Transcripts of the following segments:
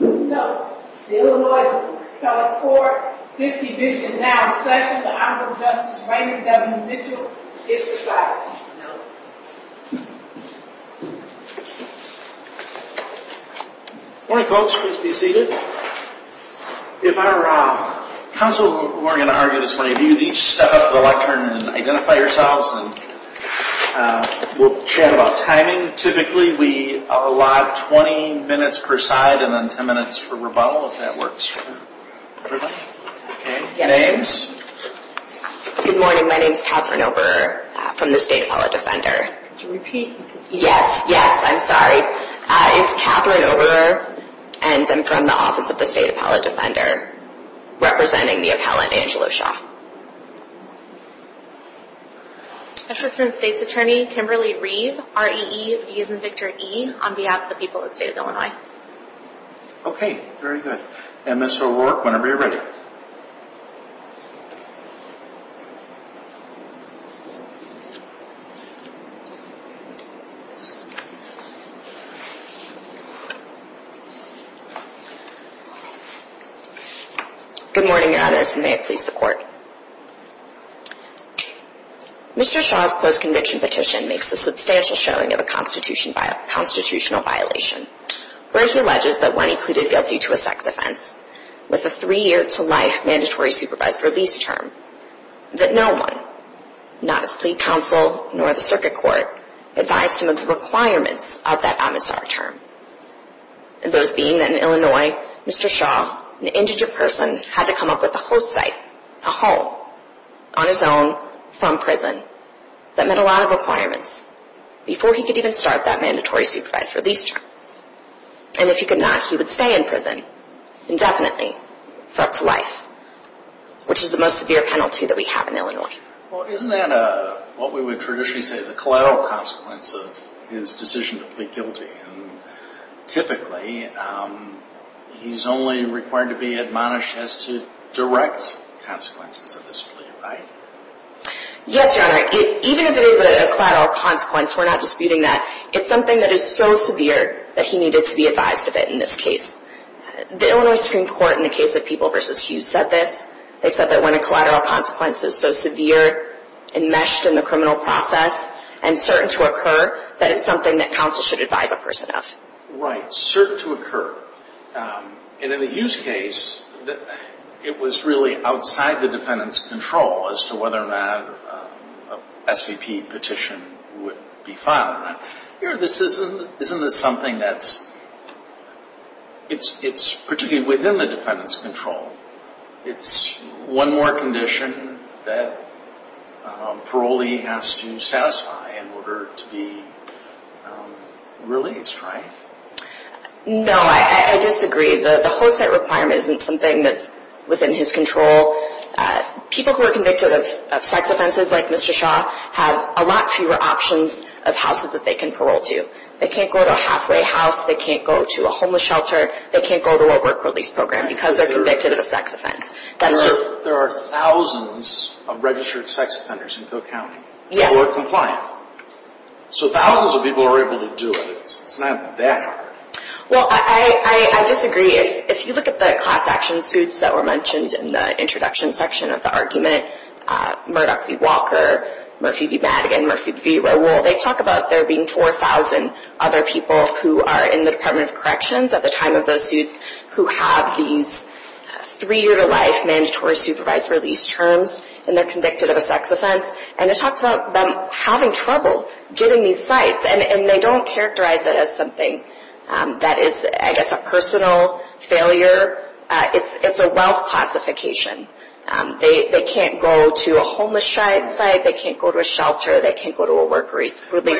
No, Illinois is now in session. The Honorable Justice Rainer W. Mitchell is presiding. No. Morning folks, please be seated. If I'm wrong, counsel Morgan argued this morning, you need to step up to the lectern and identify yourselves and we'll chat about timing. Typically we allot 20 minutes per side and then 10 minutes for rebuttal if that works for everyone. Names? Good morning, my name is Catherine Oberer from the State Appellate Defender. Could you repeat? Yes, yes, I'm sorry. It's Catherine Oberer and I'm from the Office of the State Appellate Defender, representing the appellant Angela Shaw. Assistant State's Attorney Kimberly Reeve, R-E-E-V-I-E on behalf of the people of the state of Illinois. Okay, very good. MSO work whenever you're ready. Good morning Your Honor, may it please the court. Mr. Shaw's post-conviction petition makes a substantial showing of a constitutional violation. Where he alleges that when he pleaded guilty to a sex offense, with a three year to life mandatory supervised release term, that no one, not his plea counsel nor the circuit court, advised him of the requirements of that omissar term. Those being that in Illinois, Mr. Shaw, an indigent person, had to come up with a host site, a home, on his own, from prison. That met a lot of requirements, before he could even start that mandatory supervised release term. And if he could not, he would stay in prison, indefinitely, for up to life. Which is the most severe penalty that we have in Illinois. Well isn't that what we would traditionally say is a collateral consequence of his decision to plead guilty? Typically, he's only required to be admonished as to direct consequences of this plea, right? Yes, Your Honor. Even if it is a collateral consequence, we're not disputing that. It's something that is so severe, that he needed to be advised of it, in this case. The Illinois Supreme Court, in the case of People v. Hughes, said this. They said that when a collateral consequence is so severe, enmeshed in the criminal process, and certain to occur, that it's something that counsel should advise a person of. Right. Certain to occur. And in the Hughes case, it was really outside the defendant's control, as to whether or not an SVP petition would be filed. Isn't this something that's particularly within the defendant's control? It's one more condition that parolee has to satisfy in order to be released, right? No, I disagree. The host-site requirement isn't something that's within his control. People who are convicted of sex offenses, like Mr. Shaw, have a lot fewer options of houses that they can parole to. They can't go to a halfway house. They can't go to a homeless shelter. They can't go to a work-release program, because they're convicted of a sex offense. There are thousands of registered sex offenders in Cook County who are compliant. So thousands of people are able to do it. It's not that hard. Well, I disagree. If you look at the class action suits that were mentioned in the introduction section of the argument, Murdoch v. Walker, Murphy v. Madigan, Murphy v. Rowell, they talk about there being 4,000 other people who are in the Department of Corrections at the time of those suits who have these three-year-to-life mandatory supervised release terms, and they're convicted of a sex offense. And it talks about them having trouble getting these sites, and they don't characterize it as something that is, I guess, a personal failure. It's a wealth classification. They can't go to a homeless site. They can't go to a shelter. They can't go to a work-release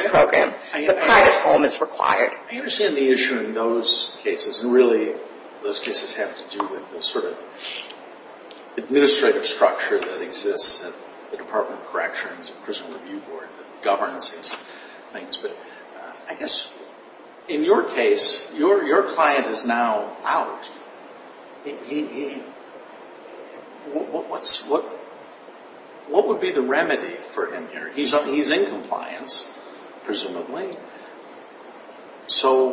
program. It's a private home. It's required. I understand the issue in those cases, and really those cases have to do with the sort of administrative structure that exists at the Department of Corrections, the Personal Review Board that governs these things. But I guess in your case, your client is now out. What would be the remedy for him here? He's in compliance, presumably. So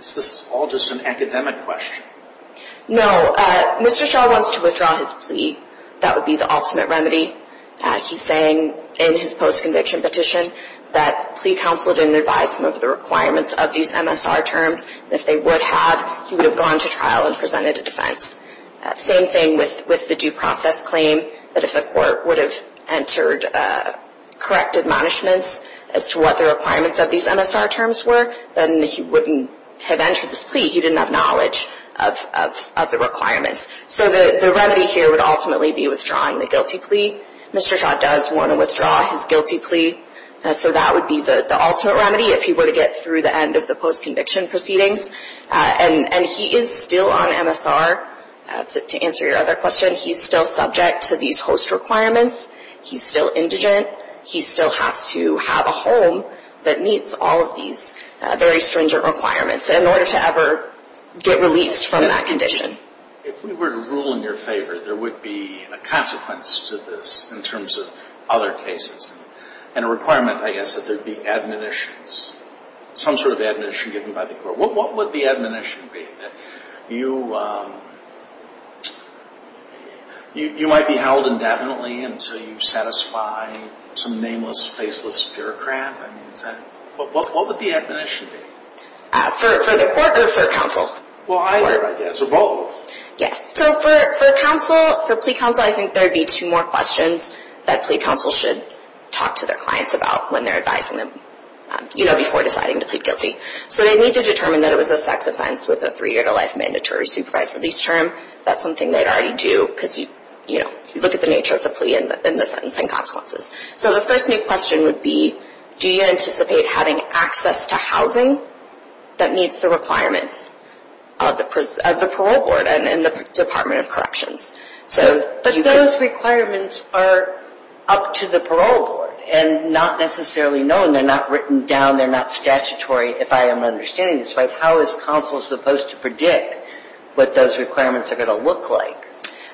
is this all just an academic question? No. Mr. Shaw wants to withdraw his plea. That would be the ultimate remedy. He's saying in his post-conviction petition that plea counsel didn't advise him of the requirements of these MSR terms, and if they would have, he would have gone to trial and presented a defense. Same thing with the due process claim, that if the court would have entered correct admonishments as to what the requirements of these MSR terms were, then he wouldn't have entered this plea. He didn't have knowledge of the requirements. So the remedy here would ultimately be withdrawing the guilty plea. Mr. Shaw does want to withdraw his guilty plea, so that would be the ultimate remedy if he were to get through the end of the post-conviction proceedings. And he is still on MSR. To answer your other question, he's still subject to these host requirements. He's still indigent. He still has to have a home that meets all of these very stringent requirements in order to ever get released from that condition. If we were to rule in your favor, there would be a consequence to this in terms of other cases, and a requirement, I guess, that there be admonitions, some sort of admonition given by the court. What would the admonition be? You might be held indefinitely until you satisfy some nameless, faceless bureaucrat. What would the admonition be? For the court or for counsel? Well, either, I guess, or both. Yes. So for counsel, for plea counsel, I think there would be two more questions that plea counsel should talk to their clients about when they're advising them, you know, before deciding to plead guilty. So they need to determine that it was a sex offense with a three-year-to-life mandatory supervised release term. That's something they'd already do because, you know, you look at the nature of the plea and the sentencing consequences. So the first big question would be, do you anticipate having access to housing that meets the requirements of the parole board and the Department of Corrections? But those requirements are up to the parole board and not necessarily known. They're not written down. They're not statutory, if I am understanding this right. How is counsel supposed to predict what those requirements are going to look like?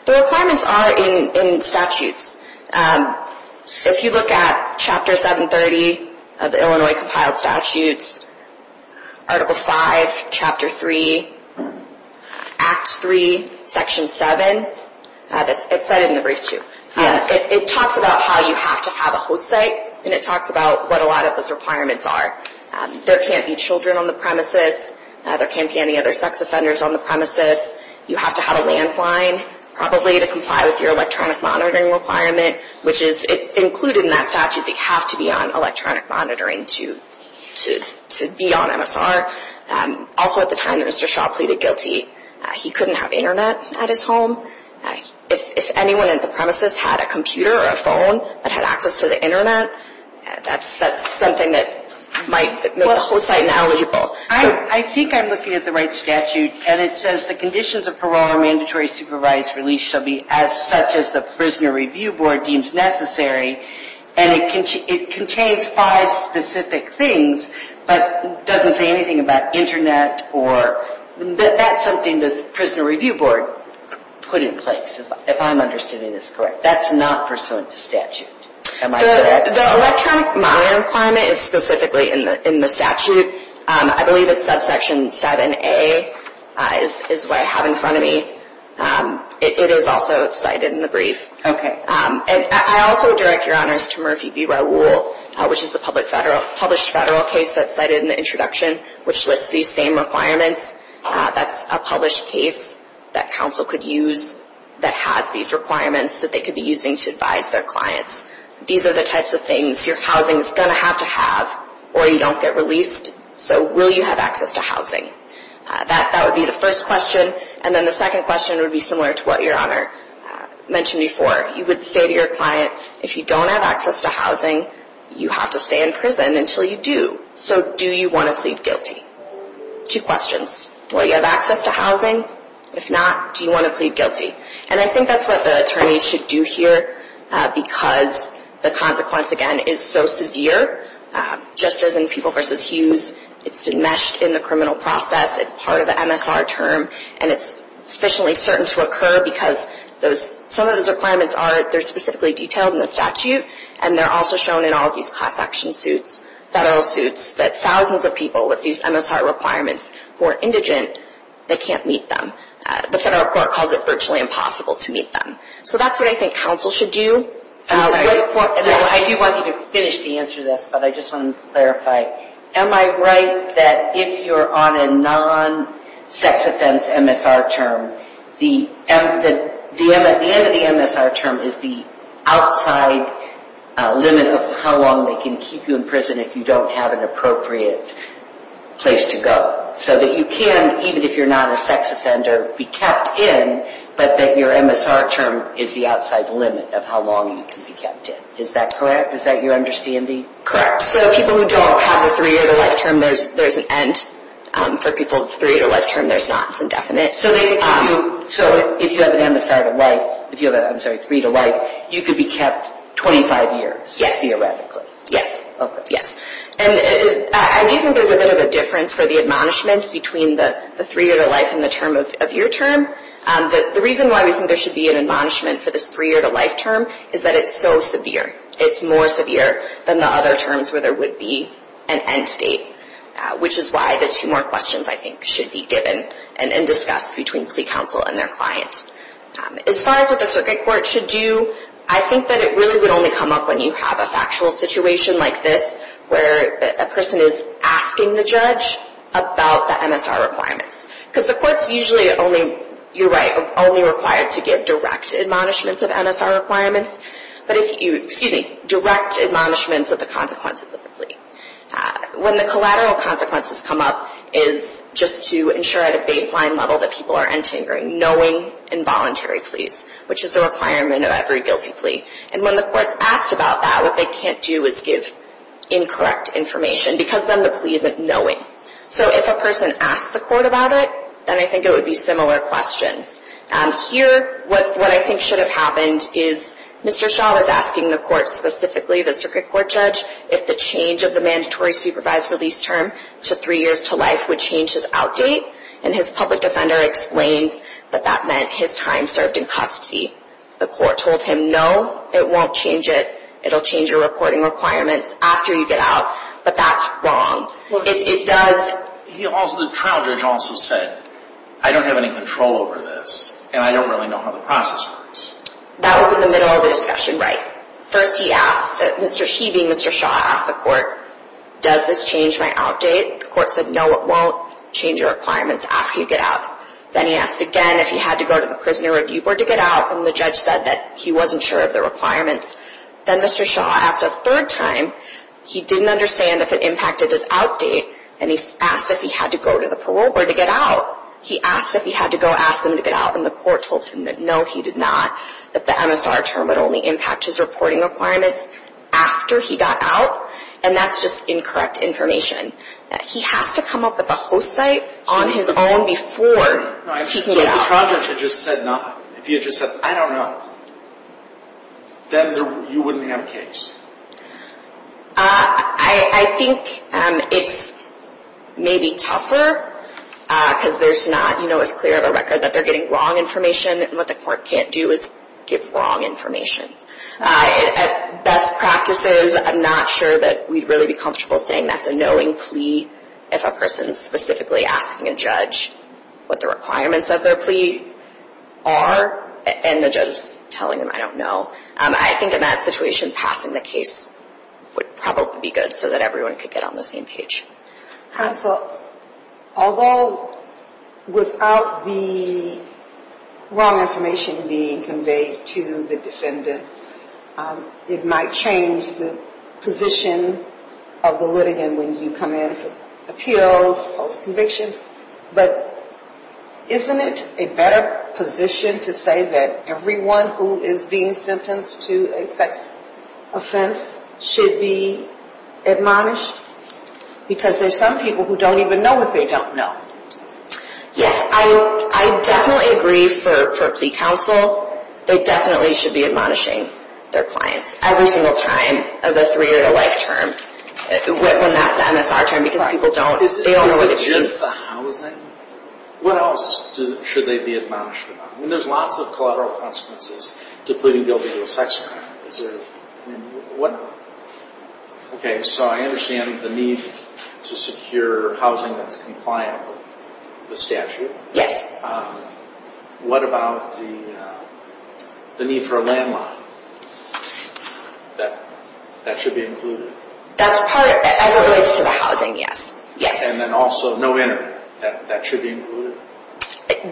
The requirements are in statutes. If you look at Chapter 730 of the Illinois Compiled Statutes, Article 5, Chapter 3, Act 3, Section 7, it's cited in the brief too. It talks about how you have to have a host site, and it talks about what a lot of those requirements are. There can't be children on the premises. There can't be any other sex offenders on the premises. You have to have a landsline probably to comply with your electronic monitoring requirement, which is included in that statute. They have to be on electronic monitoring to be on MSR. Also at the time that Mr. Shaw pleaded guilty, he couldn't have Internet at his home. If anyone at the premises had a computer or a phone that had access to the Internet, that's something that might make the host site ineligible. I think I'm looking at the right statute, and it says the conditions of parole are mandatory, supervised, released, shall be as such as the Prisoner Review Board deems necessary. And it contains five specific things, but doesn't say anything about Internet. That's something the Prisoner Review Board put in place, if I'm understanding this correctly. That's not pursuant to statute. Am I correct? The electronic monitoring requirement is specifically in the statute. I believe it's subsection 7A is what I have in front of me. It is also cited in the brief. Okay. And I also direct your honors to Murphy v. Raul, which is the published federal case that's cited in the introduction, which lists these same requirements. That's a published case that counsel could use that has these requirements that they could be using to advise their clients. These are the types of things your housing is going to have to have, or you don't get released. So will you have access to housing? That would be the first question. And then the second question would be similar to what your honor mentioned before. You would say to your client, if you don't have access to housing, you have to stay in prison until you do. So do you want to plead guilty? Two questions. Will you have access to housing? If not, do you want to plead guilty? And I think that's what the attorneys should do here because the consequence, again, is so severe. Just as in People v. Hughes, it's been meshed in the criminal process. It's part of the MSR term. And it's sufficiently certain to occur because some of those requirements are specifically detailed in the statute, and they're also shown in all of these class action suits, federal suits, that thousands of people with these MSR requirements who are indigent, they can't meet them. The federal court calls it virtually impossible to meet them. So that's what I think counsel should do. I do want you to finish the answer to this, but I just want to clarify. Am I right that if you're on a non-sex-offense MSR term, the end of the MSR term is the outside limit of how long they can keep you in prison if you don't have an appropriate place to go? So that you can, even if you're not a sex offender, be kept in, but that your MSR term is the outside limit of how long you can be kept in. Is that correct? Is that your understanding? Correct. So people who don't have a three-year-to-life term, there's an end. For people with a three-year-to-life term, there's not. It's indefinite. So if you have an MSR to life, if you have a three-year-to-life, you could be kept 25 years? Yes. Theoretically? Yes. Okay. Yes. And I do think there's a bit of a difference for the admonishments between the three-year-to-life and the term of your term. The reason why we think there should be an admonishment for this three-year-to-life term is that it's so severe. It's more severe than the other terms where there would be an end date, which is why the two more questions, I think, should be given and discussed between plea counsel and their client. As far as what the circuit court should do, I think that it really would only come up when you have a factual situation like this where a person is asking the judge about the MSR requirements. Because the court's usually only, you're right, only required to give direct admonishments of MSR requirements. But if you, excuse me, direct admonishments of the consequences of the plea. When the collateral consequences come up is just to ensure at a baseline level that people are entering knowing involuntary pleas, which is a requirement of every guilty plea. And when the court's asked about that, what they can't do is give incorrect information because then the plea isn't knowing. So if a person asks the court about it, then I think it would be similar questions. Here, what I think should have happened is Mr. Shaw was asking the court specifically, the circuit court judge, if the change of the mandatory supervised release term to three years to life would change his out date. And his public defender explains that that meant his time served in custody. The court told him, no, it won't change it. It will change your reporting requirements after you get out. But that's wrong. The trial judge also said, I don't have any control over this, and I don't really know how the process works. That was in the middle of the discussion, right. First he asked, he being Mr. Shaw, asked the court, does this change my out date? The court said, no, it won't change your requirements after you get out. Then he asked again if he had to go to the prisoner review board to get out, and the judge said that he wasn't sure of the requirements. Then Mr. Shaw asked a third time, he didn't understand if it impacted his out date, and he asked if he had to go to the parole board to get out. He asked if he had to go ask them to get out, and the court told him that no, he did not, that the MSR term would only impact his reporting requirements after he got out, and that's just incorrect information. He has to come up with a host site on his own before he can get out. If the trial judge had just said nothing, if he had just said, I don't know, then you wouldn't have a case. I think it's maybe tougher because there's not, you know, it's clear of a record that they're getting wrong information, and what the court can't do is give wrong information. At best practices, I'm not sure that we'd really be comfortable saying that's a knowing plea if a person is specifically asking a judge what the requirements of their plea are, and the judge is telling them, I don't know. I think in that situation, passing the case would probably be good so that everyone could get on the same page. So although without the wrong information being conveyed to the defendant, it might change the position of the litigant when you come in for appeals, post-convictions, but isn't it a better position to say that everyone who is being sentenced to a sex offense should be admonished? Because there's some people who don't even know what they don't know. Yes, I definitely agree for plea counsel. They definitely should be admonishing their clients every single time of the three-year-to-life term when that's the MSR term because people don't know what it means. Is it just the housing? What else should they be admonished about? I mean, there's lots of collateral consequences to pleading guilty to a sex crime. Is there, I mean, what, okay, so I understand the need to secure housing that's compliant with the statute. Yes. What about the need for a landline? That should be included? That's part, as it relates to the housing, yes. Yes. And then also no entry. That should be included?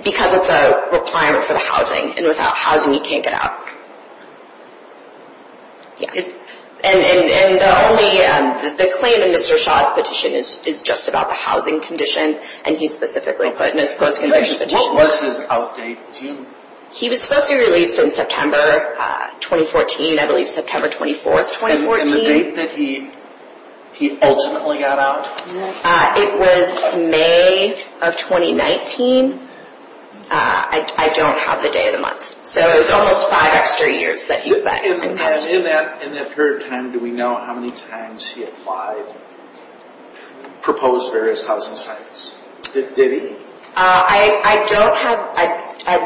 Because it's a requirement for the housing, and without housing you can't get out. Yes. And the claim in Mr. Shaw's petition is just about the housing condition, and he specifically put in his post-conviction petition. What was his out date? He was supposed to be released in September 2014, I believe September 24, 2014. And the date that he ultimately got out? It was May of 2019. I don't have the day of the month, so it was almost five extra years that he spent. In that period of time, do we know how many times he applied, proposed various housing sites? Did he? I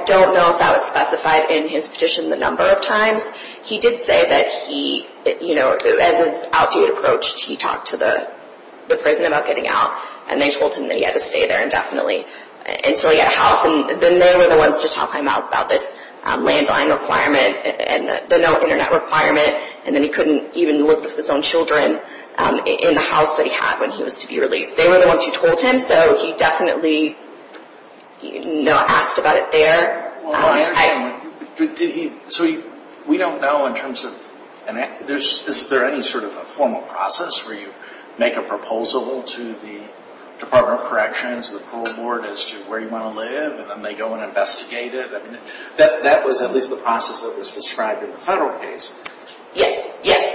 don't know if that was specified in his petition the number of times. He did say that he, you know, as his out date approached, he talked to the prison about getting out, and they told him that he had to stay there indefinitely until he got a house, and then they were the ones to talk him out about this landline requirement and the no Internet requirement, and then he couldn't even live with his own children in the house that he had when he was to be released. They were the ones who told him, so he definitely, you know, asked about it there. Well, I understand, but did he, so we don't know in terms of, is there any sort of a formal process where you make a proposal to the Department of Corrections, to the parole board as to where you want to live, and then they go and investigate it? I mean, that was at least the process that was described in the federal case. Yes, yes.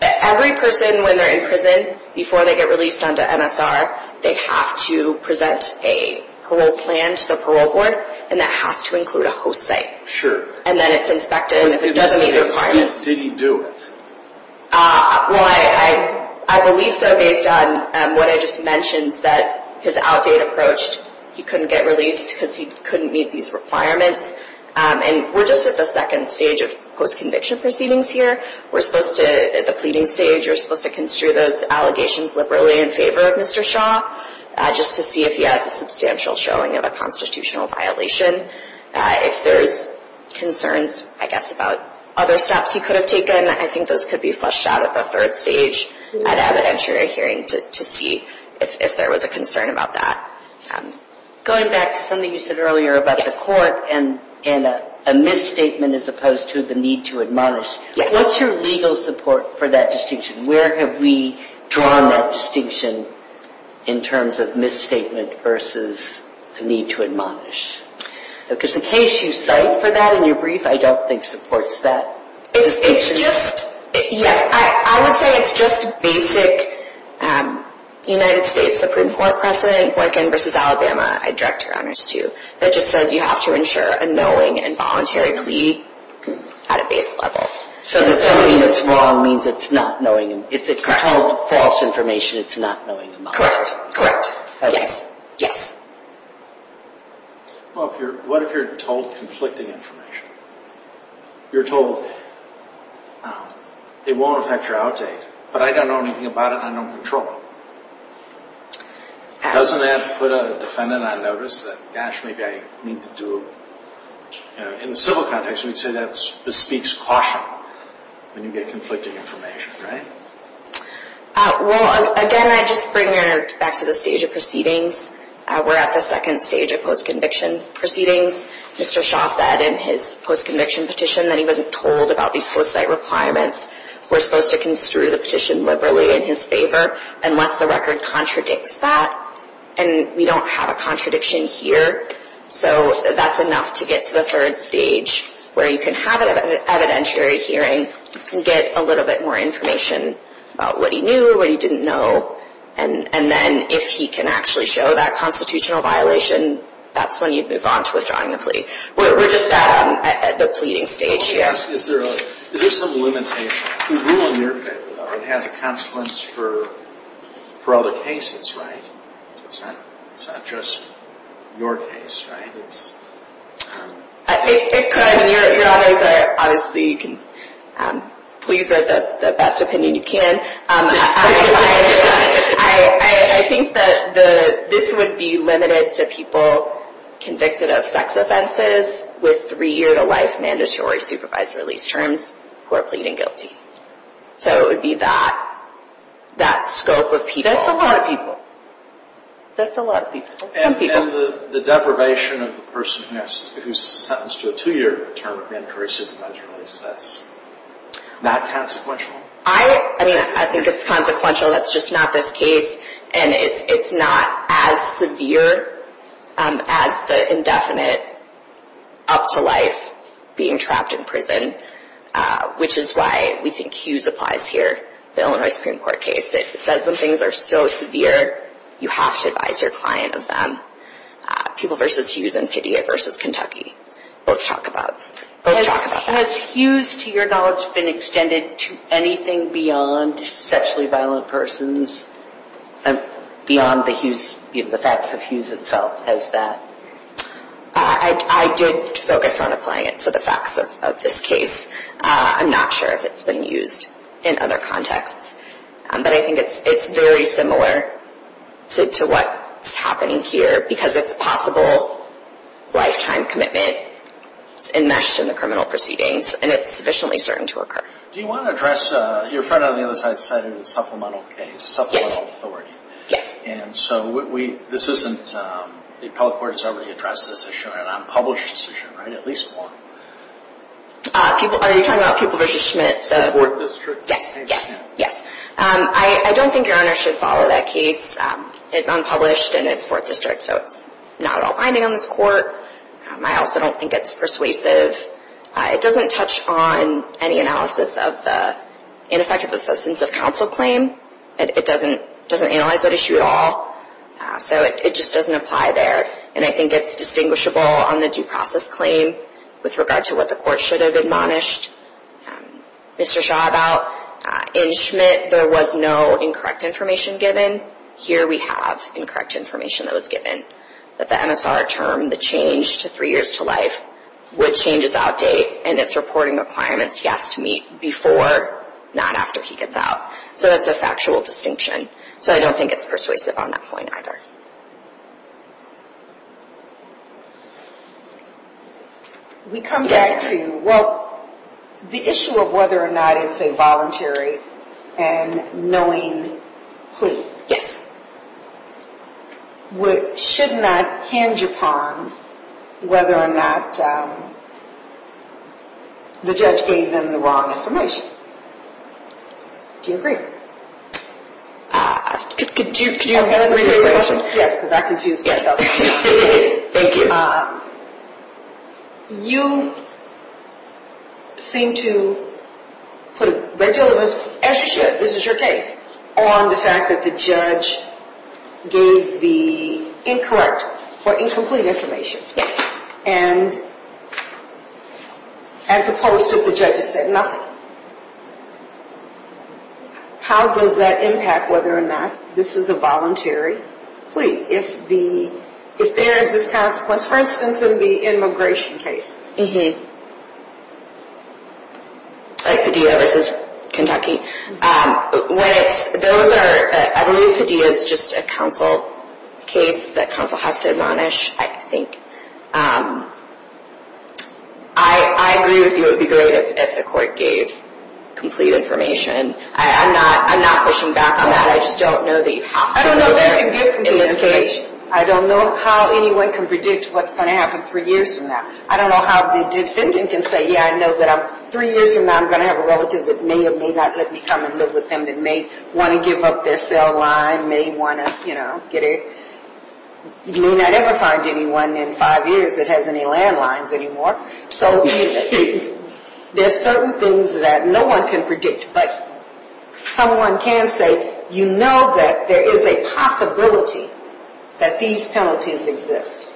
Every person, when they're in prison, before they get released onto MSR, they have to present a parole plan to the parole board, and that has to include a host site. Sure. And then it's inspected, and if it doesn't meet the requirements. Did he do it? Well, I believe so, based on what I just mentioned, that his outdated approach, he couldn't get released because he couldn't meet these requirements, and we're just at the second stage of post-conviction proceedings here. We're supposed to, at the pleading stage, we're supposed to construe those allegations liberally in favor of Mr. Shaw, just to see if he has a substantial showing of a constitutional violation. If there's concerns, I guess, about other stops he could have taken, I think those could be flushed out at the third stage at evidentiary hearing to see if there was a concern about that. Going back to something you said earlier about the court and a misstatement as opposed to the need to admonish, what's your legal support for that distinction? Where have we drawn that distinction in terms of misstatement versus a need to admonish? Because the case you cite for that in your brief, I don't think supports that. It's just, yes, I would say it's just basic United States Supreme Court precedent, Horkin v. Alabama, I direct her honors to, that just says you have to ensure a knowing and voluntary plea at a base level. So the somebody that's wrong means it's not knowing him. It's if you're told false information, it's not knowing him. Correct. Yes. What if you're told conflicting information? You're told, it won't affect your outdate, but I don't know anything about it, and I don't control it. Doesn't that put a defendant on notice that, gosh, maybe I need to do it? In the civil context, we'd say that bespeaks caution when you get conflicting information, right? Well, again, I just bring it back to the stage of proceedings. We're at the second stage of post-conviction proceedings. Mr. Shaw said in his post-conviction petition that he wasn't told about these host site requirements. We're supposed to construe the petition liberally in his favor unless the record contradicts that, and we don't have a contradiction here. So that's enough to get to the third stage where you can have an evidentiary hearing and get a little bit more information about what he knew or what he didn't know, and then if he can actually show that constitutional violation, that's when you move on to withdrawing the plea. We're just at the pleading stage here. Is there some limitation? The rule in your favor has a consequence for other cases, right? It's not just your case, right? It could, and obviously you can please write the best opinion you can. I think that this would be limited to people convicted of sex offenses with three-year-to-life mandatory supervised release terms who are pleading guilty. So it would be that scope of people. That's a lot of people. That's a lot of people. And the deprivation of the person who's sentenced to a two-year term of mandatory supervised release, that's not consequential? I mean, I think it's consequential. That's just not this case, and it's not as severe as the indefinite up to life being trapped in prison, which is why we think Hughes applies here, the Illinois Supreme Court case. It says when things are so severe, you have to advise your client of them. People versus Hughes and PDA versus Kentucky. Let's talk about that. Has Hughes, to your knowledge, been extended to anything beyond sexually violent persons, beyond the facts of Hughes itself as that? I did focus on applying it to the facts of this case. I'm not sure if it's been used in other contexts, but I think it's very similar to what's happening here because it's possible lifetime commitment is enmeshed in the criminal proceedings, and it's sufficiently certain to occur. Do you want to address, your friend on the other side cited a supplemental case, supplemental authority. Yes. And so this isn't, the appellate court has already addressed this issue, an unpublished decision, right? At least one. Are you talking about Pupil versus Schmidt? The fourth district. Yes, yes, yes. I don't think your Honor should follow that case. It's unpublished, and it's fourth district, so it's not all binding on this court. I also don't think it's persuasive. It doesn't touch on any analysis of the ineffective assistance of counsel claim. It doesn't analyze that issue at all. So it just doesn't apply there, and I think it's distinguishable on the due process claim with regard to what the court should have admonished Mr. Shaw about. In Schmidt, there was no incorrect information given. Here we have incorrect information that was given, that the MSR term, the change to three years to life, which changes out date, and it's reporting requirements, yes, to meet before, not after he gets out. So that's a factual distinction. So I don't think it's persuasive on that point either. We come back to, well, the issue of whether or not it's a voluntary and knowing plea. Yes. Should not hinge upon whether or not the judge gave them the wrong information. Do you agree? Could you repeat the question? Yes, because I confused myself. Thank you. You seem to put a regular, as you should, this is your case, on the fact that the judge gave the incorrect or incomplete information. Yes. And as opposed to if the judge had said nothing. How does that impact whether or not this is a voluntary plea? If there is this consequence, for instance, in the immigration cases. Like Padilla v. Kentucky. I believe Padilla is just a counsel case that counsel has to admonish, I think. I agree with you, it would be great if the court gave complete information. I'm not pushing back on that. I don't know how anyone can predict what's going to happen three years from now. I don't know how the defendant can say, yeah, I know that three years from now I'm going to have a relative that may or may not let me come and live with them, that may want to give up their cell line, may not ever find anyone in five years that has any landlines anymore. So there's certain things that no one can predict. But someone can say, you know that there is a possibility that these penalties exist.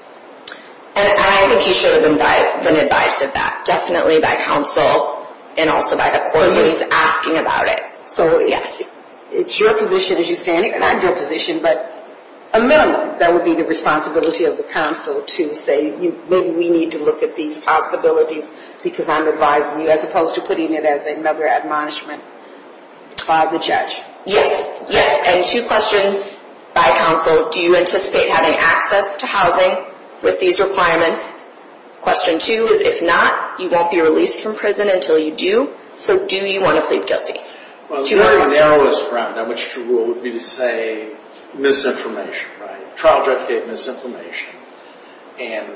And I think he should have been advised of that, definitely by counsel and also by the court when he's asking about it. So, yes. It's your position as you stand here, not your position, but a minimum that would be the responsibility of the counsel to say, maybe we need to look at these possibilities because I'm advising you, as opposed to putting it as another admonishment by the judge. Yes. Yes. And two questions by counsel. Do you anticipate having access to housing with these requirements? Question two is, if not, you won't be released from prison until you do. So do you want to plead guilty? Well, the narrowest ground on which to rule would be to say misinformation, right? Trial judge gave misinformation. And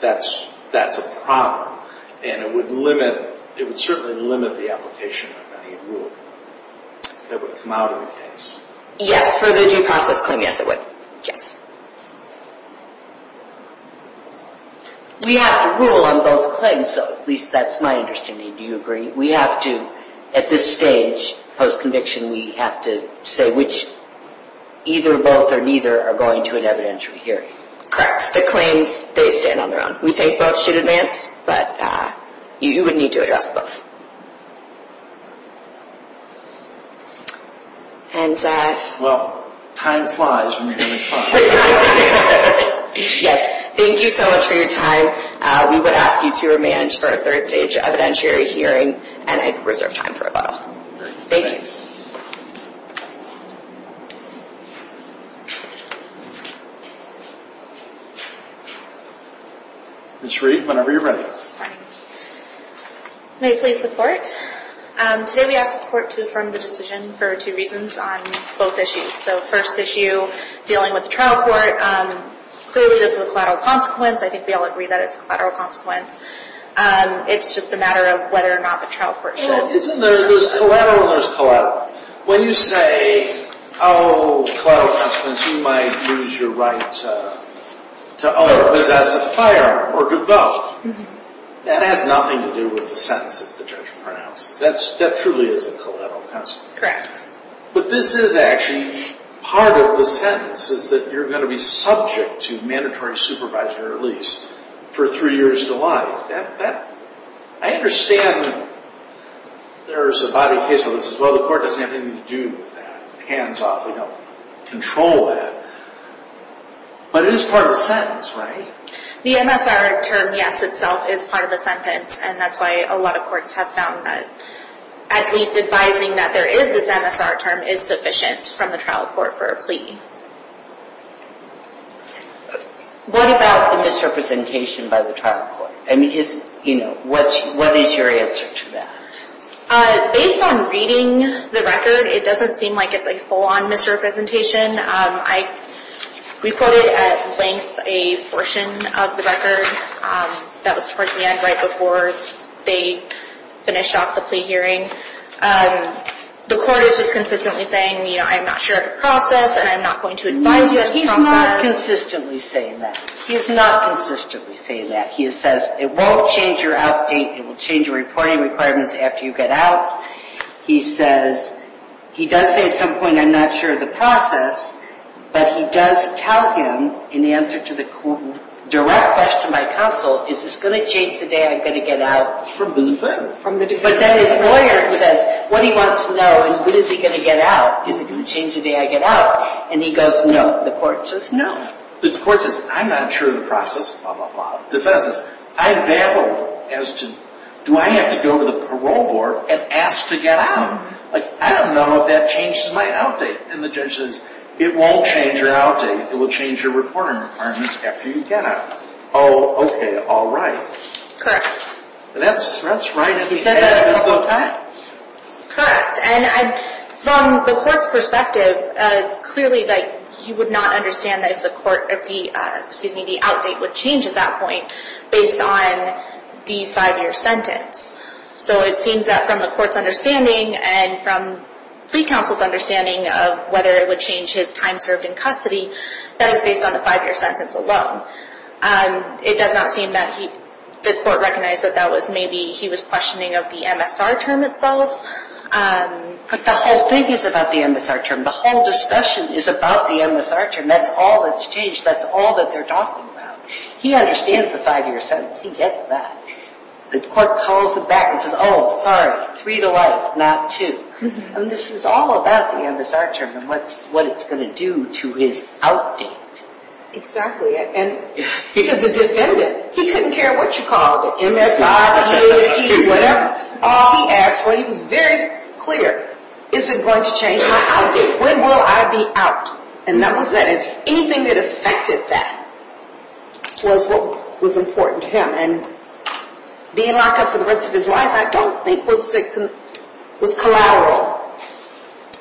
that's a problem. And it would limit, it would certainly limit the application of any rule that would come out of the case. Yes, for the due process claim, yes, it would. Yes. We have to rule on both claims, so at least that's my understanding. Do you agree? We have to, at this stage, post-conviction, we have to say which either both or neither are going to an evidentiary hearing. Correct. The claims, they stand on their own. We think both should advance, but you would need to address both. Well, time flies when you're having fun. Yes. Thank you so much for your time. We would ask you to remand for a third stage evidentiary hearing, and I reserve time for a while. Thank you. Ms. Reed, whenever you're ready. May it please the Court. Today we ask this Court to affirm the decision for two reasons on both issues. So first issue, dealing with the trial court, clearly this is a collateral consequence. I think we all agree that it's a collateral consequence. It's just a matter of whether or not the trial court should. Well, isn't there, there's collateral and there's collateral. When you say, oh, collateral consequence, you might lose your right to own or possess a firearm or give up, that has nothing to do with the sentence that the judge pronounces. That truly is a collateral consequence. Correct. But this is actually part of the sentence, is that you're going to be subject to mandatory supervisory release for three years to life. I understand there's a body case where this is, well, the Court doesn't have anything to do with that, hands off. We don't control that. But it is part of the sentence, right? The MSR term, yes, itself is part of the sentence, and that's why a lot of courts have found that at least advising that there is this MSR term is sufficient from the trial court for a plea. What about the misrepresentation by the trial court? I mean, what is your answer to that? Based on reading the record, it doesn't seem like it's a full-on misrepresentation. We quoted at length a portion of the record that was towards the end, right before they finished off the plea hearing. The court is just consistently saying, you know, I'm not sure of the process and I'm not going to advise you as to the process. No, he's not consistently saying that. He is not consistently saying that. He says, it won't change your out date, it will change your reporting requirements after you get out. He says, he does say at some point, I'm not sure of the process, but he does tell him in answer to the direct question by counsel, is this going to change the day I'm going to get out? It's from the defense. But then his lawyer says, what he wants to know is when is he going to get out? Is it going to change the day I get out? And he goes, no. The court says, no. The court says, I'm not sure of the process, blah, blah, blah. The defense says, I've baffled as to, do I have to go to the parole board and ask to get out? Like, I don't know if that changes my out date. And the judge says, it won't change your out date, it will change your reporting requirements after you get out. Oh, okay, all right. Correct. That's right. He said that a couple of times. Correct. And from the court's perspective, clearly he would not understand if the out date would change at that point based on the five-year sentence. So it seems that from the court's understanding and from plea counsel's understanding of whether it would change his time served in custody, that is based on the five-year sentence alone. It does not seem that the court recognized that that was maybe, he was questioning of the MSR term itself. But the whole thing is about the MSR term. The whole discussion is about the MSR term. That's all that's changed. That's all that they're talking about. He understands the five-year sentence. He gets that. The court calls him back and says, oh, sorry, three to life, not two. And this is all about the MSR term and what it's going to do to his out date. Exactly. And to the defendant, he couldn't care what you called it, MSI, EAT, whatever. All he asked for, he was very clear, is it going to change my out date? When will I be out? And that was that. And anything that affected that was what was important to him. And being locked up for the rest of his life I don't think was collateral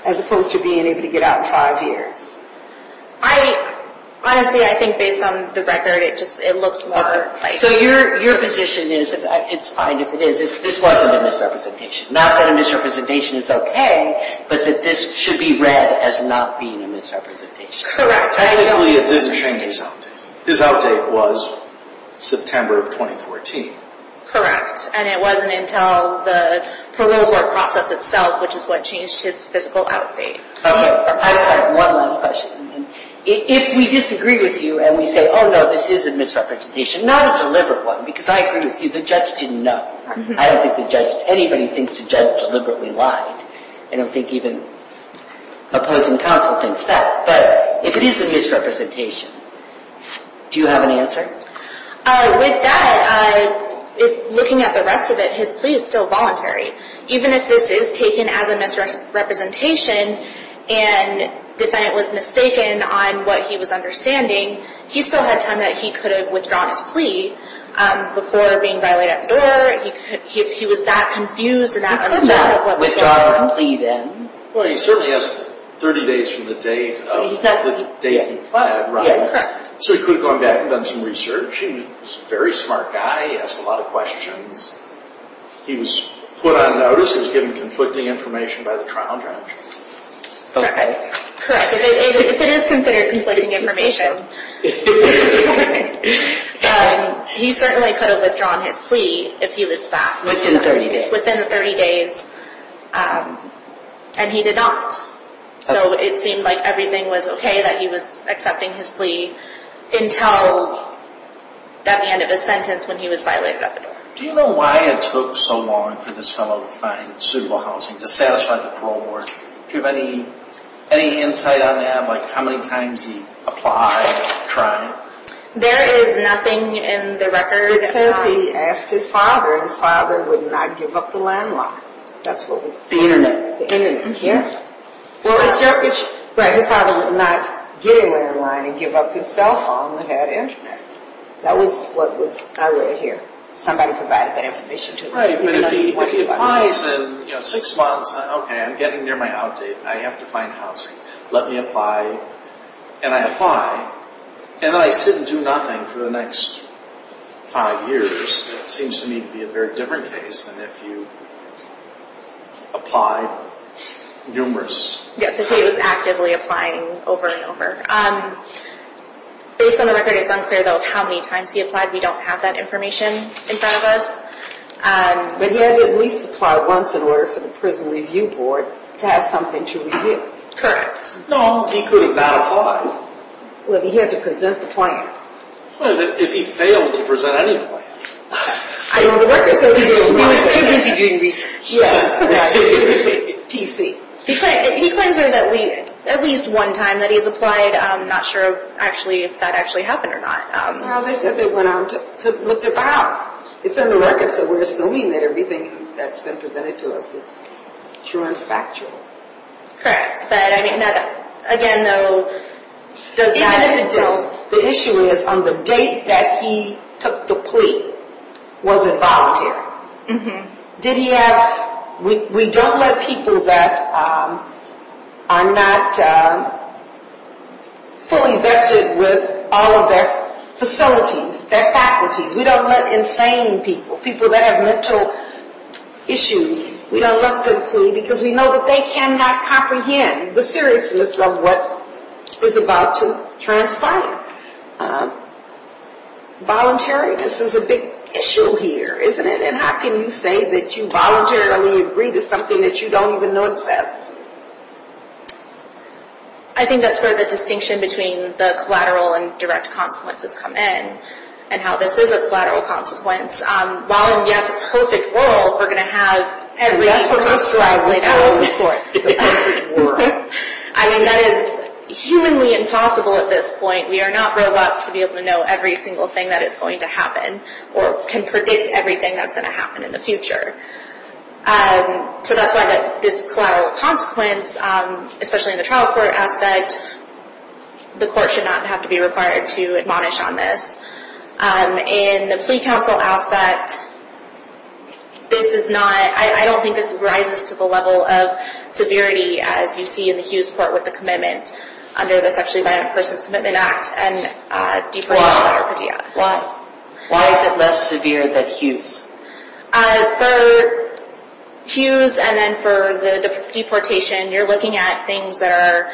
as opposed to being able to get out in five years. Honestly, I think based on the record, it looks more likely. So your position is, it's fine if it is, is this wasn't a misrepresentation. Not that a misrepresentation is okay, but that this should be read as not being a misrepresentation. Correct. Technically, it didn't change his out date. His out date was September of 2014. Correct. And it wasn't until the parole board process itself, which is what changed his physical out date. Okay, I have one last question. If we disagree with you and we say, oh no, this is a misrepresentation, not a deliberate one, because I agree with you, the judge didn't know. I don't think the judge, anybody thinks the judge deliberately lied. I don't think even opposing counsel thinks that. But if it is a misrepresentation, do you have an answer? With that, looking at the rest of it, his plea is still voluntary. Even if this is taken as a misrepresentation and the defendant was mistaken on what he was understanding, he still had time that he could have withdrawn his plea before being violated at the door. If he was that confused and that unsteady. He could not have withdrawn his plea then. Well, he certainly has 30 days from the date of the day he pled, right? Yeah, correct. So he could have gone back and done some research. He was a very smart guy. He asked a lot of questions. He was put on notice. He was given conflicting information by the trial judge. Okay. Correct. If it is considered conflicting information, he certainly could have withdrawn his plea if he was that. Within 30 days. Within 30 days. And he did not. So it seemed like everything was okay that he was accepting his plea until at the end of his sentence when he was violated at the door. Do you know why it took so long for this fellow to find suitable housing to satisfy the parole board? Do you have any insight on that? Like how many times he applied, tried? There is nothing in the record. It says he asked his father and his father would not give up the landline. That's what we think. The internet. The internet, yeah. Well, his father would not get a landline and give up his cell phone that had internet. That was what I read here. Somebody provided that information to him. Right, but if he applies in six months, okay, I'm getting near my outdate. I have to find housing. Let me apply. And I apply. And then I sit and do nothing for the next five years. That seems to me to be a very different case than if you applied numerous times. Yes, if he was actively applying over and over. Based on the record, it's unclear, though, how many times he applied. We don't have that information in front of us. But he had to at least apply once in order for the prison review board to have something to review. Correct. No, he could have not applied. Well, he had to present the plan. If he failed to present any plan. I know the record says he didn't. He was too busy doing research. Yeah. PC. He claims there's at least one time that he's applied. I'm not sure actually if that actually happened or not. Well, they said they went out with their files. It's in the record, so we're assuming that everything that's been presented to us is true and factual. Correct. But, I mean, again, though, does that... The issue is on the date that he took the plea, was it voluntary? Mm-hmm. Did he have... We don't let people that are not fully vested with all of their facilities, their faculties. We don't let insane people, people that have mental issues. We don't let them plead because we know that they cannot comprehend the seriousness of what is about to transpire. Voluntariness is a big issue here, isn't it? And how can you say that you voluntarily agree to something that you don't even know exists? I think that's where the distinction between the collateral and direct consequences come in and how this is a collateral consequence. While in, yes, a perfect world, we're going to have every... And that's what constructs the perfect world. I mean, that is humanly impossible at this point. We are not robots to be able to know every single thing that is going to happen or can predict everything that's going to happen in the future. So that's why this collateral consequence, especially in the trial court aspect, the court should not have to be required to admonish on this. In the plea counsel aspect, this is not... I don't think this rises to the level of severity as you see in the Hughes Court with the commitment under the Sexually Violent Persons Commitment Act and deeper... Why is it less severe than Hughes? For Hughes and then for the deportation, you're looking at things that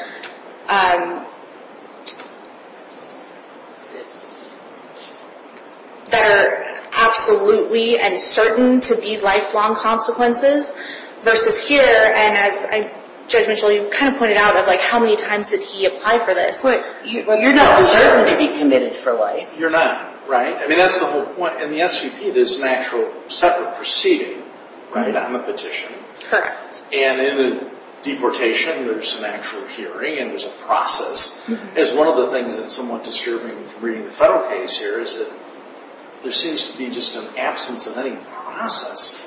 are absolutely and certain to be lifelong consequences versus here. And as Judge Mitchell, you kind of pointed out of like how many times did he apply for this. You're not certain to be committed for life. You're not, right? I mean, that's the whole point. In the SVP, there's an actual separate proceeding, right, on the petition. Correct. And in the deportation, there's an actual hearing and there's a process. As one of the things that's somewhat disturbing from reading the federal case here is that there seems to be just an absence of any process.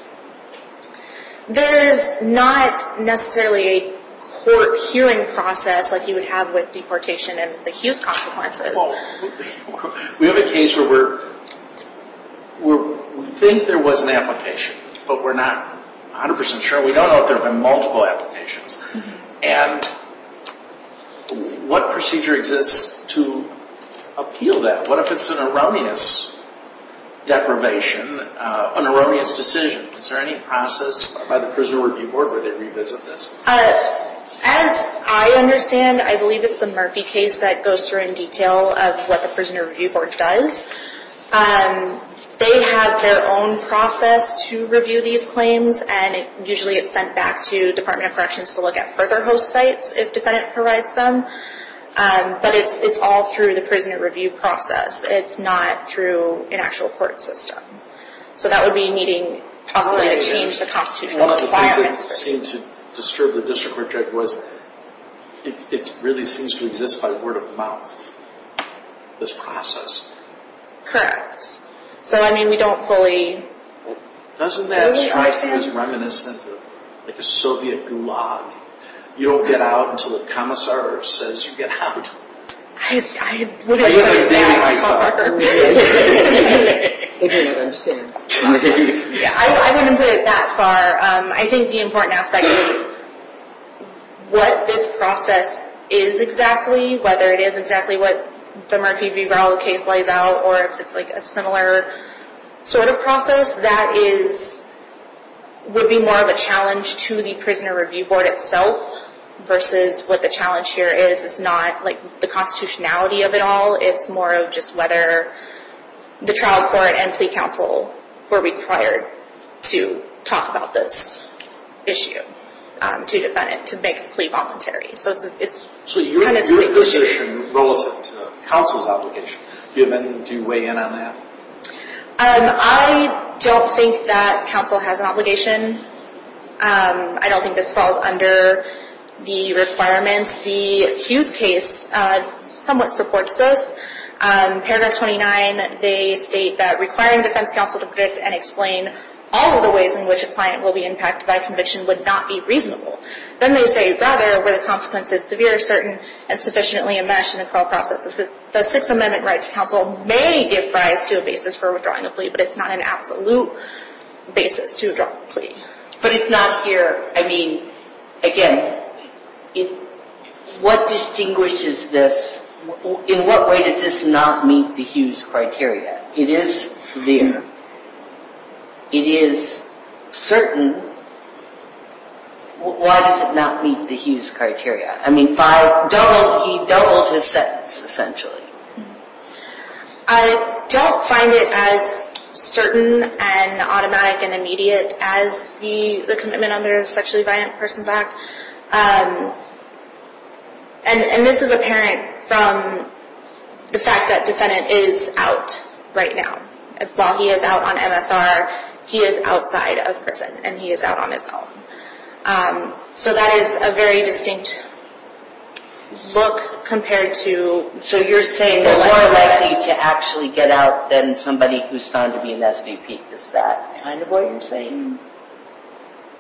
There's not necessarily a court hearing process like you would have with deportation and the Hughes consequences. We have a case where we think there was an application, but we're not 100 percent sure. We don't know if there have been multiple applications. And what procedure exists to appeal that? What if it's an erroneous deprivation, an erroneous decision? Is there any process by the Prisoner Review Board where they revisit this? As I understand, I believe it's the Murphy case that goes through in detail of what the Prisoner Review Board does. They have their own process to review these claims, and usually it's sent back to the Department of Corrections to look at further host sites if a defendant provides them. But it's all through the Prisoner Review process. It's not through an actual court system. So that would be needing possibly to change the constitutional requirements. One of the things that seemed to disturb the district project was it really seems to exist by word of mouth, this process. Correct. So, I mean, we don't fully know. Doesn't that strike you as reminiscent of like a Soviet gulag? You don't get out until the commissar says you get out. I wouldn't put it that far. I think the important aspect of what this process is exactly, whether it is exactly what the Murphy v. Brown case lays out or if it's like a similar sort of process, that would be more of a challenge to the Prisoner Review Board itself versus what the challenge here is. It's not like the constitutionality of it all. It's more of just whether the trial court and plea counsel were required to talk about this issue to defend it, to make a plea voluntary. So it's kind of distinct issues. So your position relative to counsel's obligation, do you weigh in on that? I don't think that counsel has an obligation. I don't think this falls under the requirements. The Hughes case somewhat supports this. Paragraph 29, they state that requiring defense counsel to predict and explain all of the ways in which a client will be impacted by a conviction would not be reasonable. Then they say, rather, where the consequence is severe, certain, and sufficiently enmeshed in the trial process, the Sixth Amendment right to counsel may give rise to a basis for withdrawing a plea, But if not here, I mean, again, what distinguishes this? In what way does this not meet the Hughes criteria? It is severe. It is certain. Why does it not meet the Hughes criteria? I mean, he doubled his sentence, essentially. I don't find it as certain and automatic and immediate as the commitment under the Sexually Violent Persons Act. And this is apparent from the fact that defendant is out right now. While he is out on MSR, he is outside of prison, and he is out on his own. So that is a very distinct look compared to... So you're saying they're more likely to actually get out than somebody who's found to be an SVP. Is that kind of what you're saying?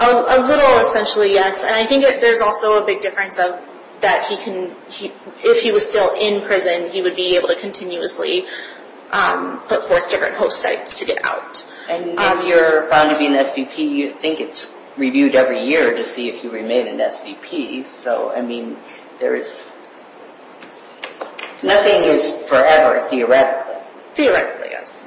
A little, essentially, yes. And I think there's also a big difference that if he was still in prison, he would be able to continuously put forth different host sites to get out. And if you're found to be an SVP, you think it's reviewed every year to see if you remain an SVP. So, I mean, there is... Nothing is forever, theoretically. Theoretically, yes.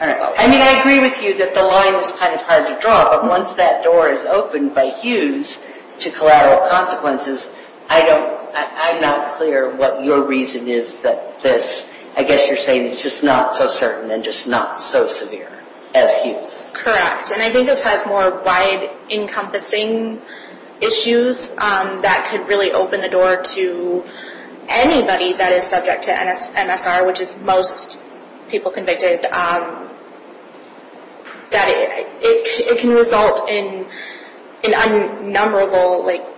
I mean, I agree with you that the line is kind of hard to draw, but once that door is opened by Hughes to collateral consequences, I'm not clear what your reason is that this... Correct. And I think this has more wide-encompassing issues that could really open the door to anybody that is subject to MSR, which is most people convicted, that it can result in an unnumberable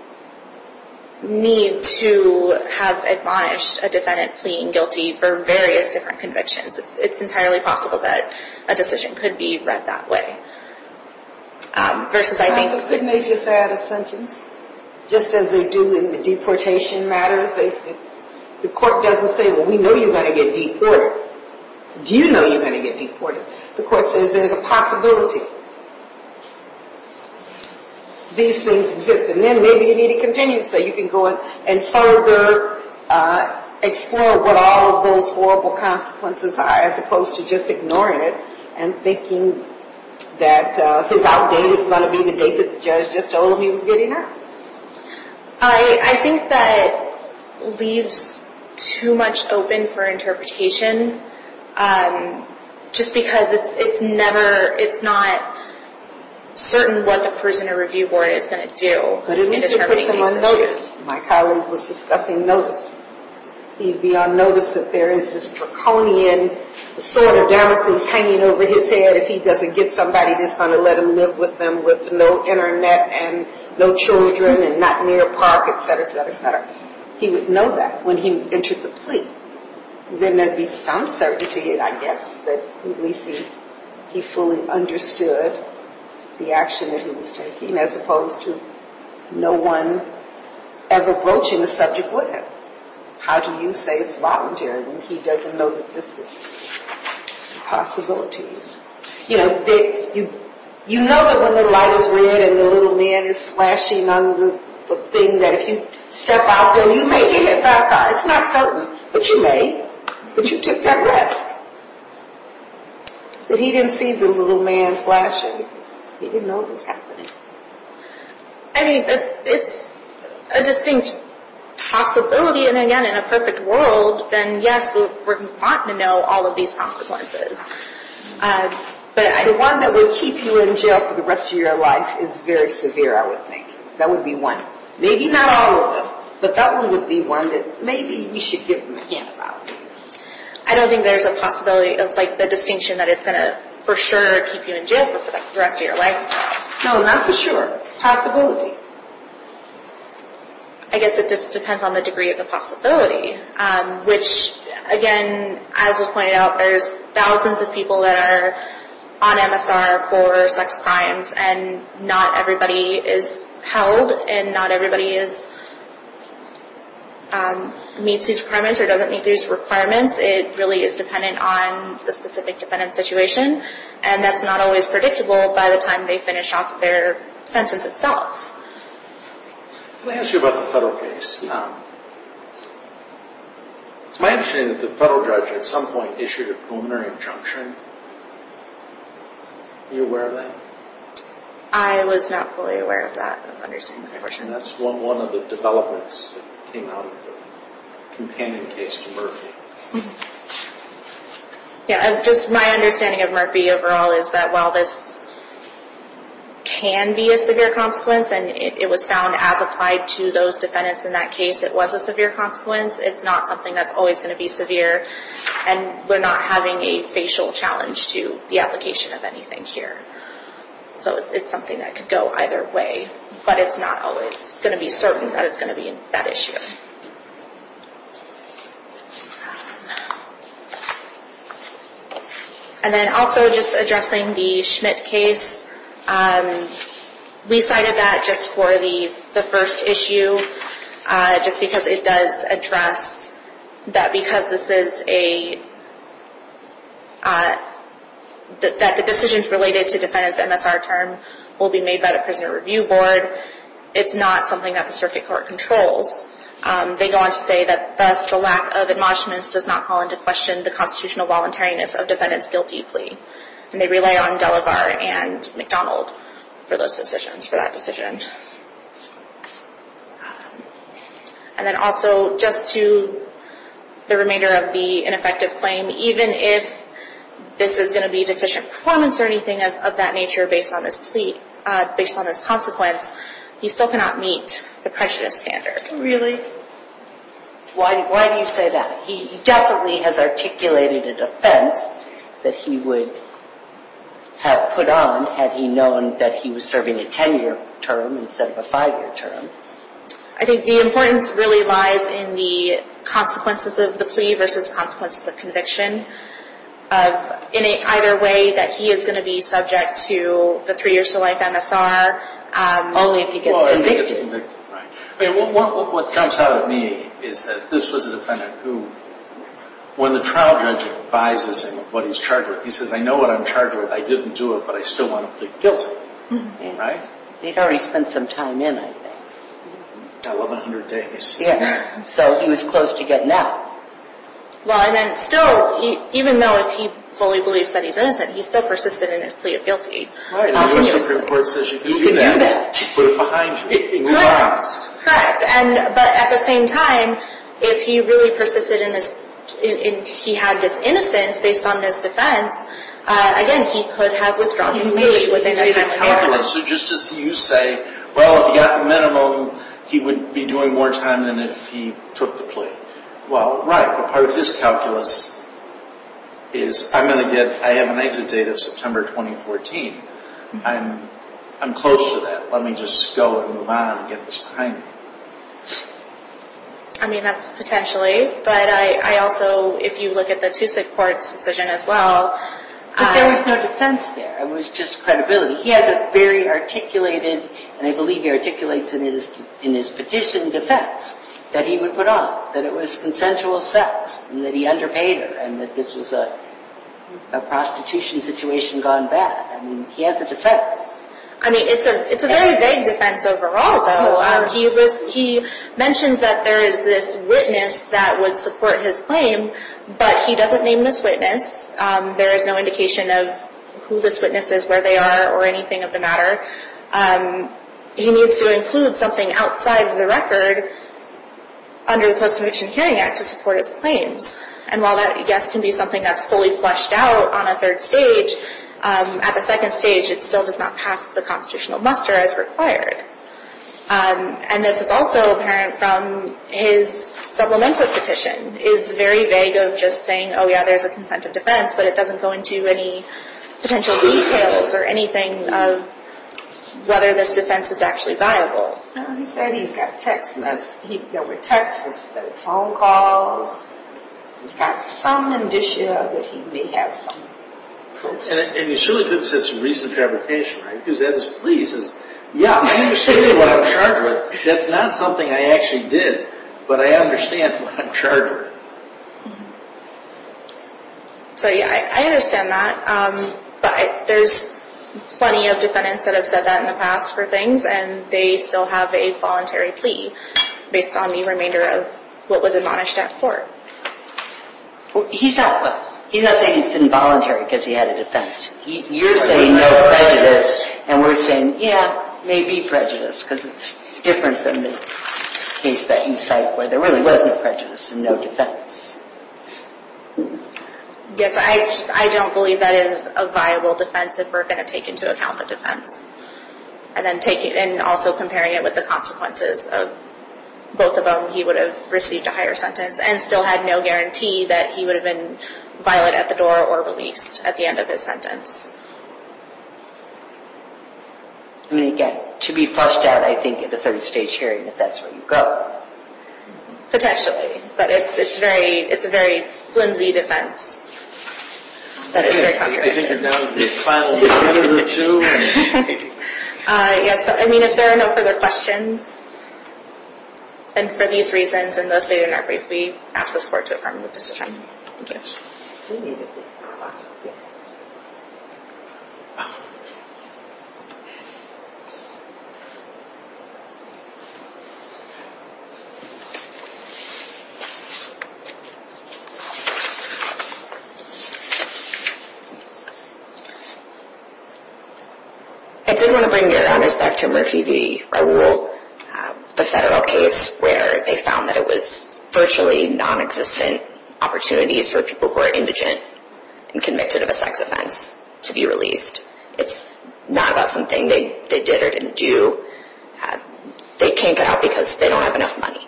need to have admonished a defendant pleading guilty for various different convictions. It's entirely possible that a decision could be read that way. Couldn't they just add a sentence, just as they do in the deportation matters? The court doesn't say, well, we know you're going to get deported. Do you know you're going to get deported? The court says there's a possibility these things exist, and then maybe you need to continue so you can go and further explore what all of those horrible consequences are, as opposed to just ignoring it and thinking that his outdate is going to be the date that the judge just told him he was getting out. I think that leaves too much open for interpretation, just because it's not certain what the prisoner review board is going to do. But at least it puts him on notice. My colleague was discussing notice. He'd be on notice that there is this draconian sort of Damocles hanging over his head if he doesn't get somebody that's going to let him live with them with no Internet and no children and not near a park, etc., etc., etc. He would know that when he entered the plea. Then there'd be some certainty, I guess, that at least he fully understood the action that he was taking, as opposed to no one ever broaching the subject with him. How do you say it's voluntary when he doesn't know that this is a possibility? You know that when the light is red and the little man is flashing on the thing, that if you step out then you may hit it back on. It's not certain, but you may. But you took that risk. But he didn't see the little man flashing. He didn't know what was happening. I mean, it's a distinct possibility. And again, in a perfect world, then yes, we're wanting to know all of these consequences. But the one that will keep you in jail for the rest of your life is very severe, I would think. That would be one. Maybe not all of them, but that one would be one that maybe we should give him a hand about. I don't think there's a possibility of the distinction that it's going to for sure keep you in jail for the rest of your life. No, not for sure. Possibility. I guess it just depends on the degree of the possibility, which again, as was pointed out, there's thousands of people that are on MSR for sex crimes, and not everybody is held and not everybody meets these requirements or doesn't meet these requirements. It really is dependent on the specific defendant's situation. And that's not always predictable by the time they finish off their sentence itself. Let me ask you about the federal case. It's my understanding that the federal judge at some point issued a preliminary injunction. Are you aware of that? I was not fully aware of that. I don't understand the question. That's one of the developments that came out of the companion case to Murphy. Yeah, just my understanding of Murphy overall is that while this can be a severe consequence, and it was found as applied to those defendants in that case it was a severe consequence, it's not something that's always going to be severe, and we're not having a facial challenge to the application of anything here. So it's something that could go either way, but it's not always going to be certain that it's going to be that issue. And then also just addressing the Schmidt case. We cited that just for the first issue just because it does address that because this is a – that the decisions related to defendant's MSR term will be made by the Prisoner Review Board, it's not something that the circuit court controls. They go on to say that thus the lack of admonishments does not call into question the constitutional voluntariness of defendants guilty. And they rely on Delavar and McDonald for those decisions, for that decision. And then also just to the remainder of the ineffective claim, even if this is going to be deficient performance or anything of that nature based on this plea, based on this consequence, he still cannot meet the prejudice standard. Really? Why do you say that? He definitely has articulated a defense that he would have put on had he known that he was serving a 10-year term instead of a 5-year term. I think the importance really lies in the consequences of the plea versus consequences of conviction. In either way that he is going to be subject to the three years to life MSR only if he gets convicted. What comes out of me is that this was a defendant who, when the trial judge advises him of what he's charged with, he says, I know what I'm charged with, I didn't do it, but I still want to plead guilty. He'd already spent some time in, I think. 1100 days. So he was close to getting out. Well, and then still, even though he fully believes that he's innocent, he still persisted in his plea of guilty. Right, and the U.S. Supreme Court says you can do that. You can do that. Put it behind you. Correct. Correct. But at the same time, if he really persisted in this, and he had this innocence based on this defense, again, he could have withdrawn his plea within that time period. He made a calculus. So just as you say, well, if he got the minimum, he would be doing more time than if he took the plea. Well, right. Part of his calculus is I'm going to get an exit date of September 2014. I'm close to that. Let me just go and move on and get this behind me. I mean, that's potentially, but I also, if you look at the Tusik court's decision as well. But there was no defense there. It was just credibility. He has a very articulated, and I believe he articulates in his petition, defense that he would put up, that it was consensual sex, and that he underpaid her, and that this was a prostitution situation gone bad. I mean, he has a defense. I mean, it's a very vague defense overall, though. He mentions that there is this witness that would support his claim, but he doesn't name this witness. There is no indication of who this witness is, where they are, or anything of the matter. He needs to include something outside of the record under the Post-Conviction Hearing Act to support his claims. And while that, yes, can be something that's fully fleshed out on a third stage, at the second stage it still does not pass the constitutional muster as required. And this is also apparent from his supplemental petition, is very vague of just saying, oh, yeah, there's a consent of defense, but it doesn't go into any potential details or anything of whether this defense is actually viable. No, he said he's got texts. There were texts, there were phone calls. He's got some indicia that he may have some posts. And you surely could have said some recent fabrication, right? Because Ed was pleased. He says, yeah, I understand what I'm charged with. That's not something I actually did, but I understand what I'm charged with. So, yeah, I understand that. But there's plenty of defendants that have said that in the past for things, and they still have a voluntary plea based on the remainder of what was admonished at court. He's not saying he's involuntary because he had a defense. You're saying no prejudice. And we're saying, yeah, maybe prejudice, because it's different than the case that you cite where there really was no prejudice and no defense. Yes, I don't believe that is a viable defense if we're going to take into account the defense. And also comparing it with the consequences of both of them, he would have received a higher sentence and still had no guarantee that he would have been violent at the door or released at the end of his sentence. I mean, again, to be flushed out, I think, at the third stage hearing, if that's where you go. Potentially. But it's a very flimsy defense. That is very controversial. I think now the trial will be over, too. Yes, I mean, if there are no further questions, then for these reasons and those stated in our brief, we ask the support department to suspend. Thank you. Thank you very much. I did want to bring your honors back to Murphy v. Raul, the federal case where they found that it was virtually non-existent opportunities for people who are indigent and convicted of a sex offense to be released. It's not about something they did or didn't do. They can't get out because they don't have enough money,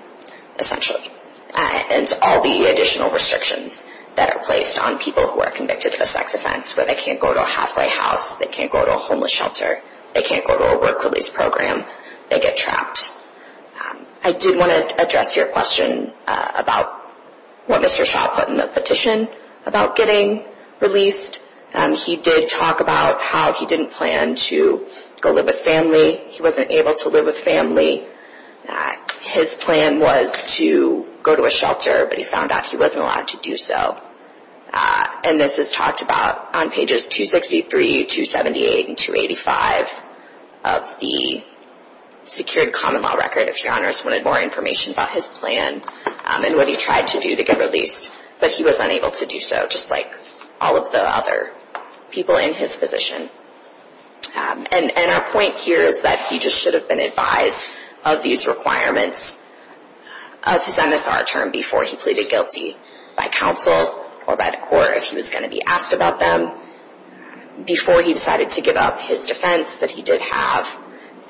essentially. And all the additional restrictions that are placed on people who are convicted of a sex offense, where they can't go to a halfway house, they can't go to a homeless shelter, they can't go to a work-release program, they get trapped. I did want to address your question about what Mr. Shaw put in the petition about getting released. He did talk about how he didn't plan to go live with family. He wasn't able to live with family. His plan was to go to a shelter, but he found out he wasn't allowed to do so. And this is talked about on pages 263, 278, and 285 of the secured common law record. If your honors wanted more information about his plan and what he tried to do to get released, but he was unable to do so, just like all of the other people in his position. And our point here is that he just should have been advised of these requirements of his MSR term before he pleaded guilty by counsel or by the court, if he was going to be asked about them, before he decided to give up his defense that he did have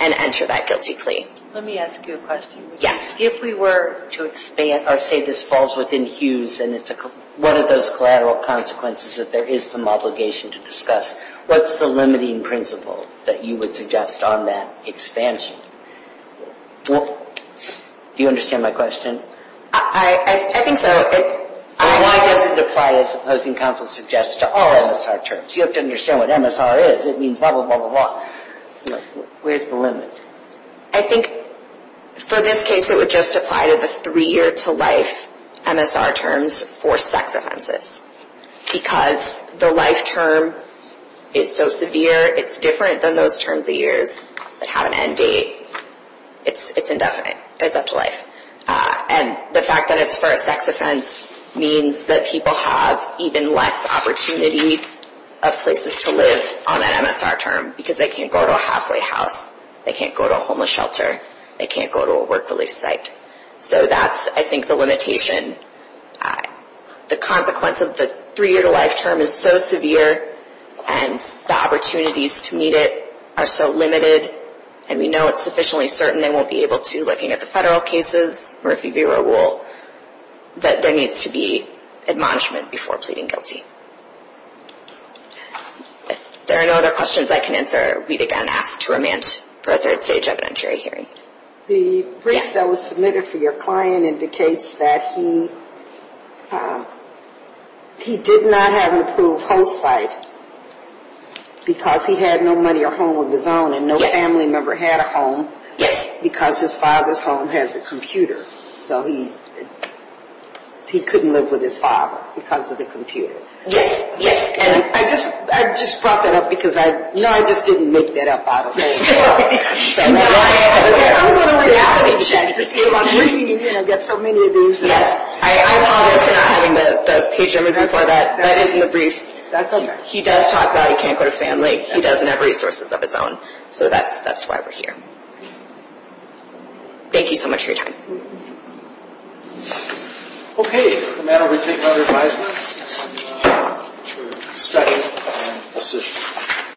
and enter that guilty plea. Let me ask you a question. Yes. If we were to expand, or say this falls within Hughes and it's one of those collateral consequences that there is some obligation to discuss, what's the limiting principle that you would suggest on that expansion? Do you understand my question? I think so. Why does it apply, as the opposing counsel suggests, to all MSR terms? You have to understand what MSR is. It means blah, blah, blah, blah, blah. Where's the limit? I think for this case it would just apply to the three-year-to-life MSR terms for sex offenses, because the life term is so severe, it's different than those terms of years that have an end date. It's indefinite. It's up to life. And the fact that it's for a sex offense means that people have even less opportunity of places to live on that MSR term, because they can't go to a halfway house. They can't go to a homeless shelter. They can't go to a work-release site. So that's, I think, the limitation. The consequence of the three-year-to-life term is so severe, and the opportunities to meet it are so limited, and we know it's sufficiently certain they won't be able to looking at the federal cases, or if you view our rule, that there needs to be admonishment before pleading guilty. If there are no other questions I can answer, we'd again ask to remand for a third-stage evidentiary hearing. The brief that was submitted for your client indicates that he did not have an approved host site, because he had no money or home of his own, and no family member had a home, because his father's home has a computer. So he couldn't live with his father because of the computer. Yes, yes. And I just brought that up because I know I just didn't make that up out of the blue. I was on a reality check to see if I'm really going to get so many of these. Yes. I apologize for not having the page numbers before that. That is in the briefs. He does talk about he can't go to family. He doesn't have resources of his own. So that's why we're here. Thank you so much for your time. Okay. With that, I'll be taking other advice. Thank you.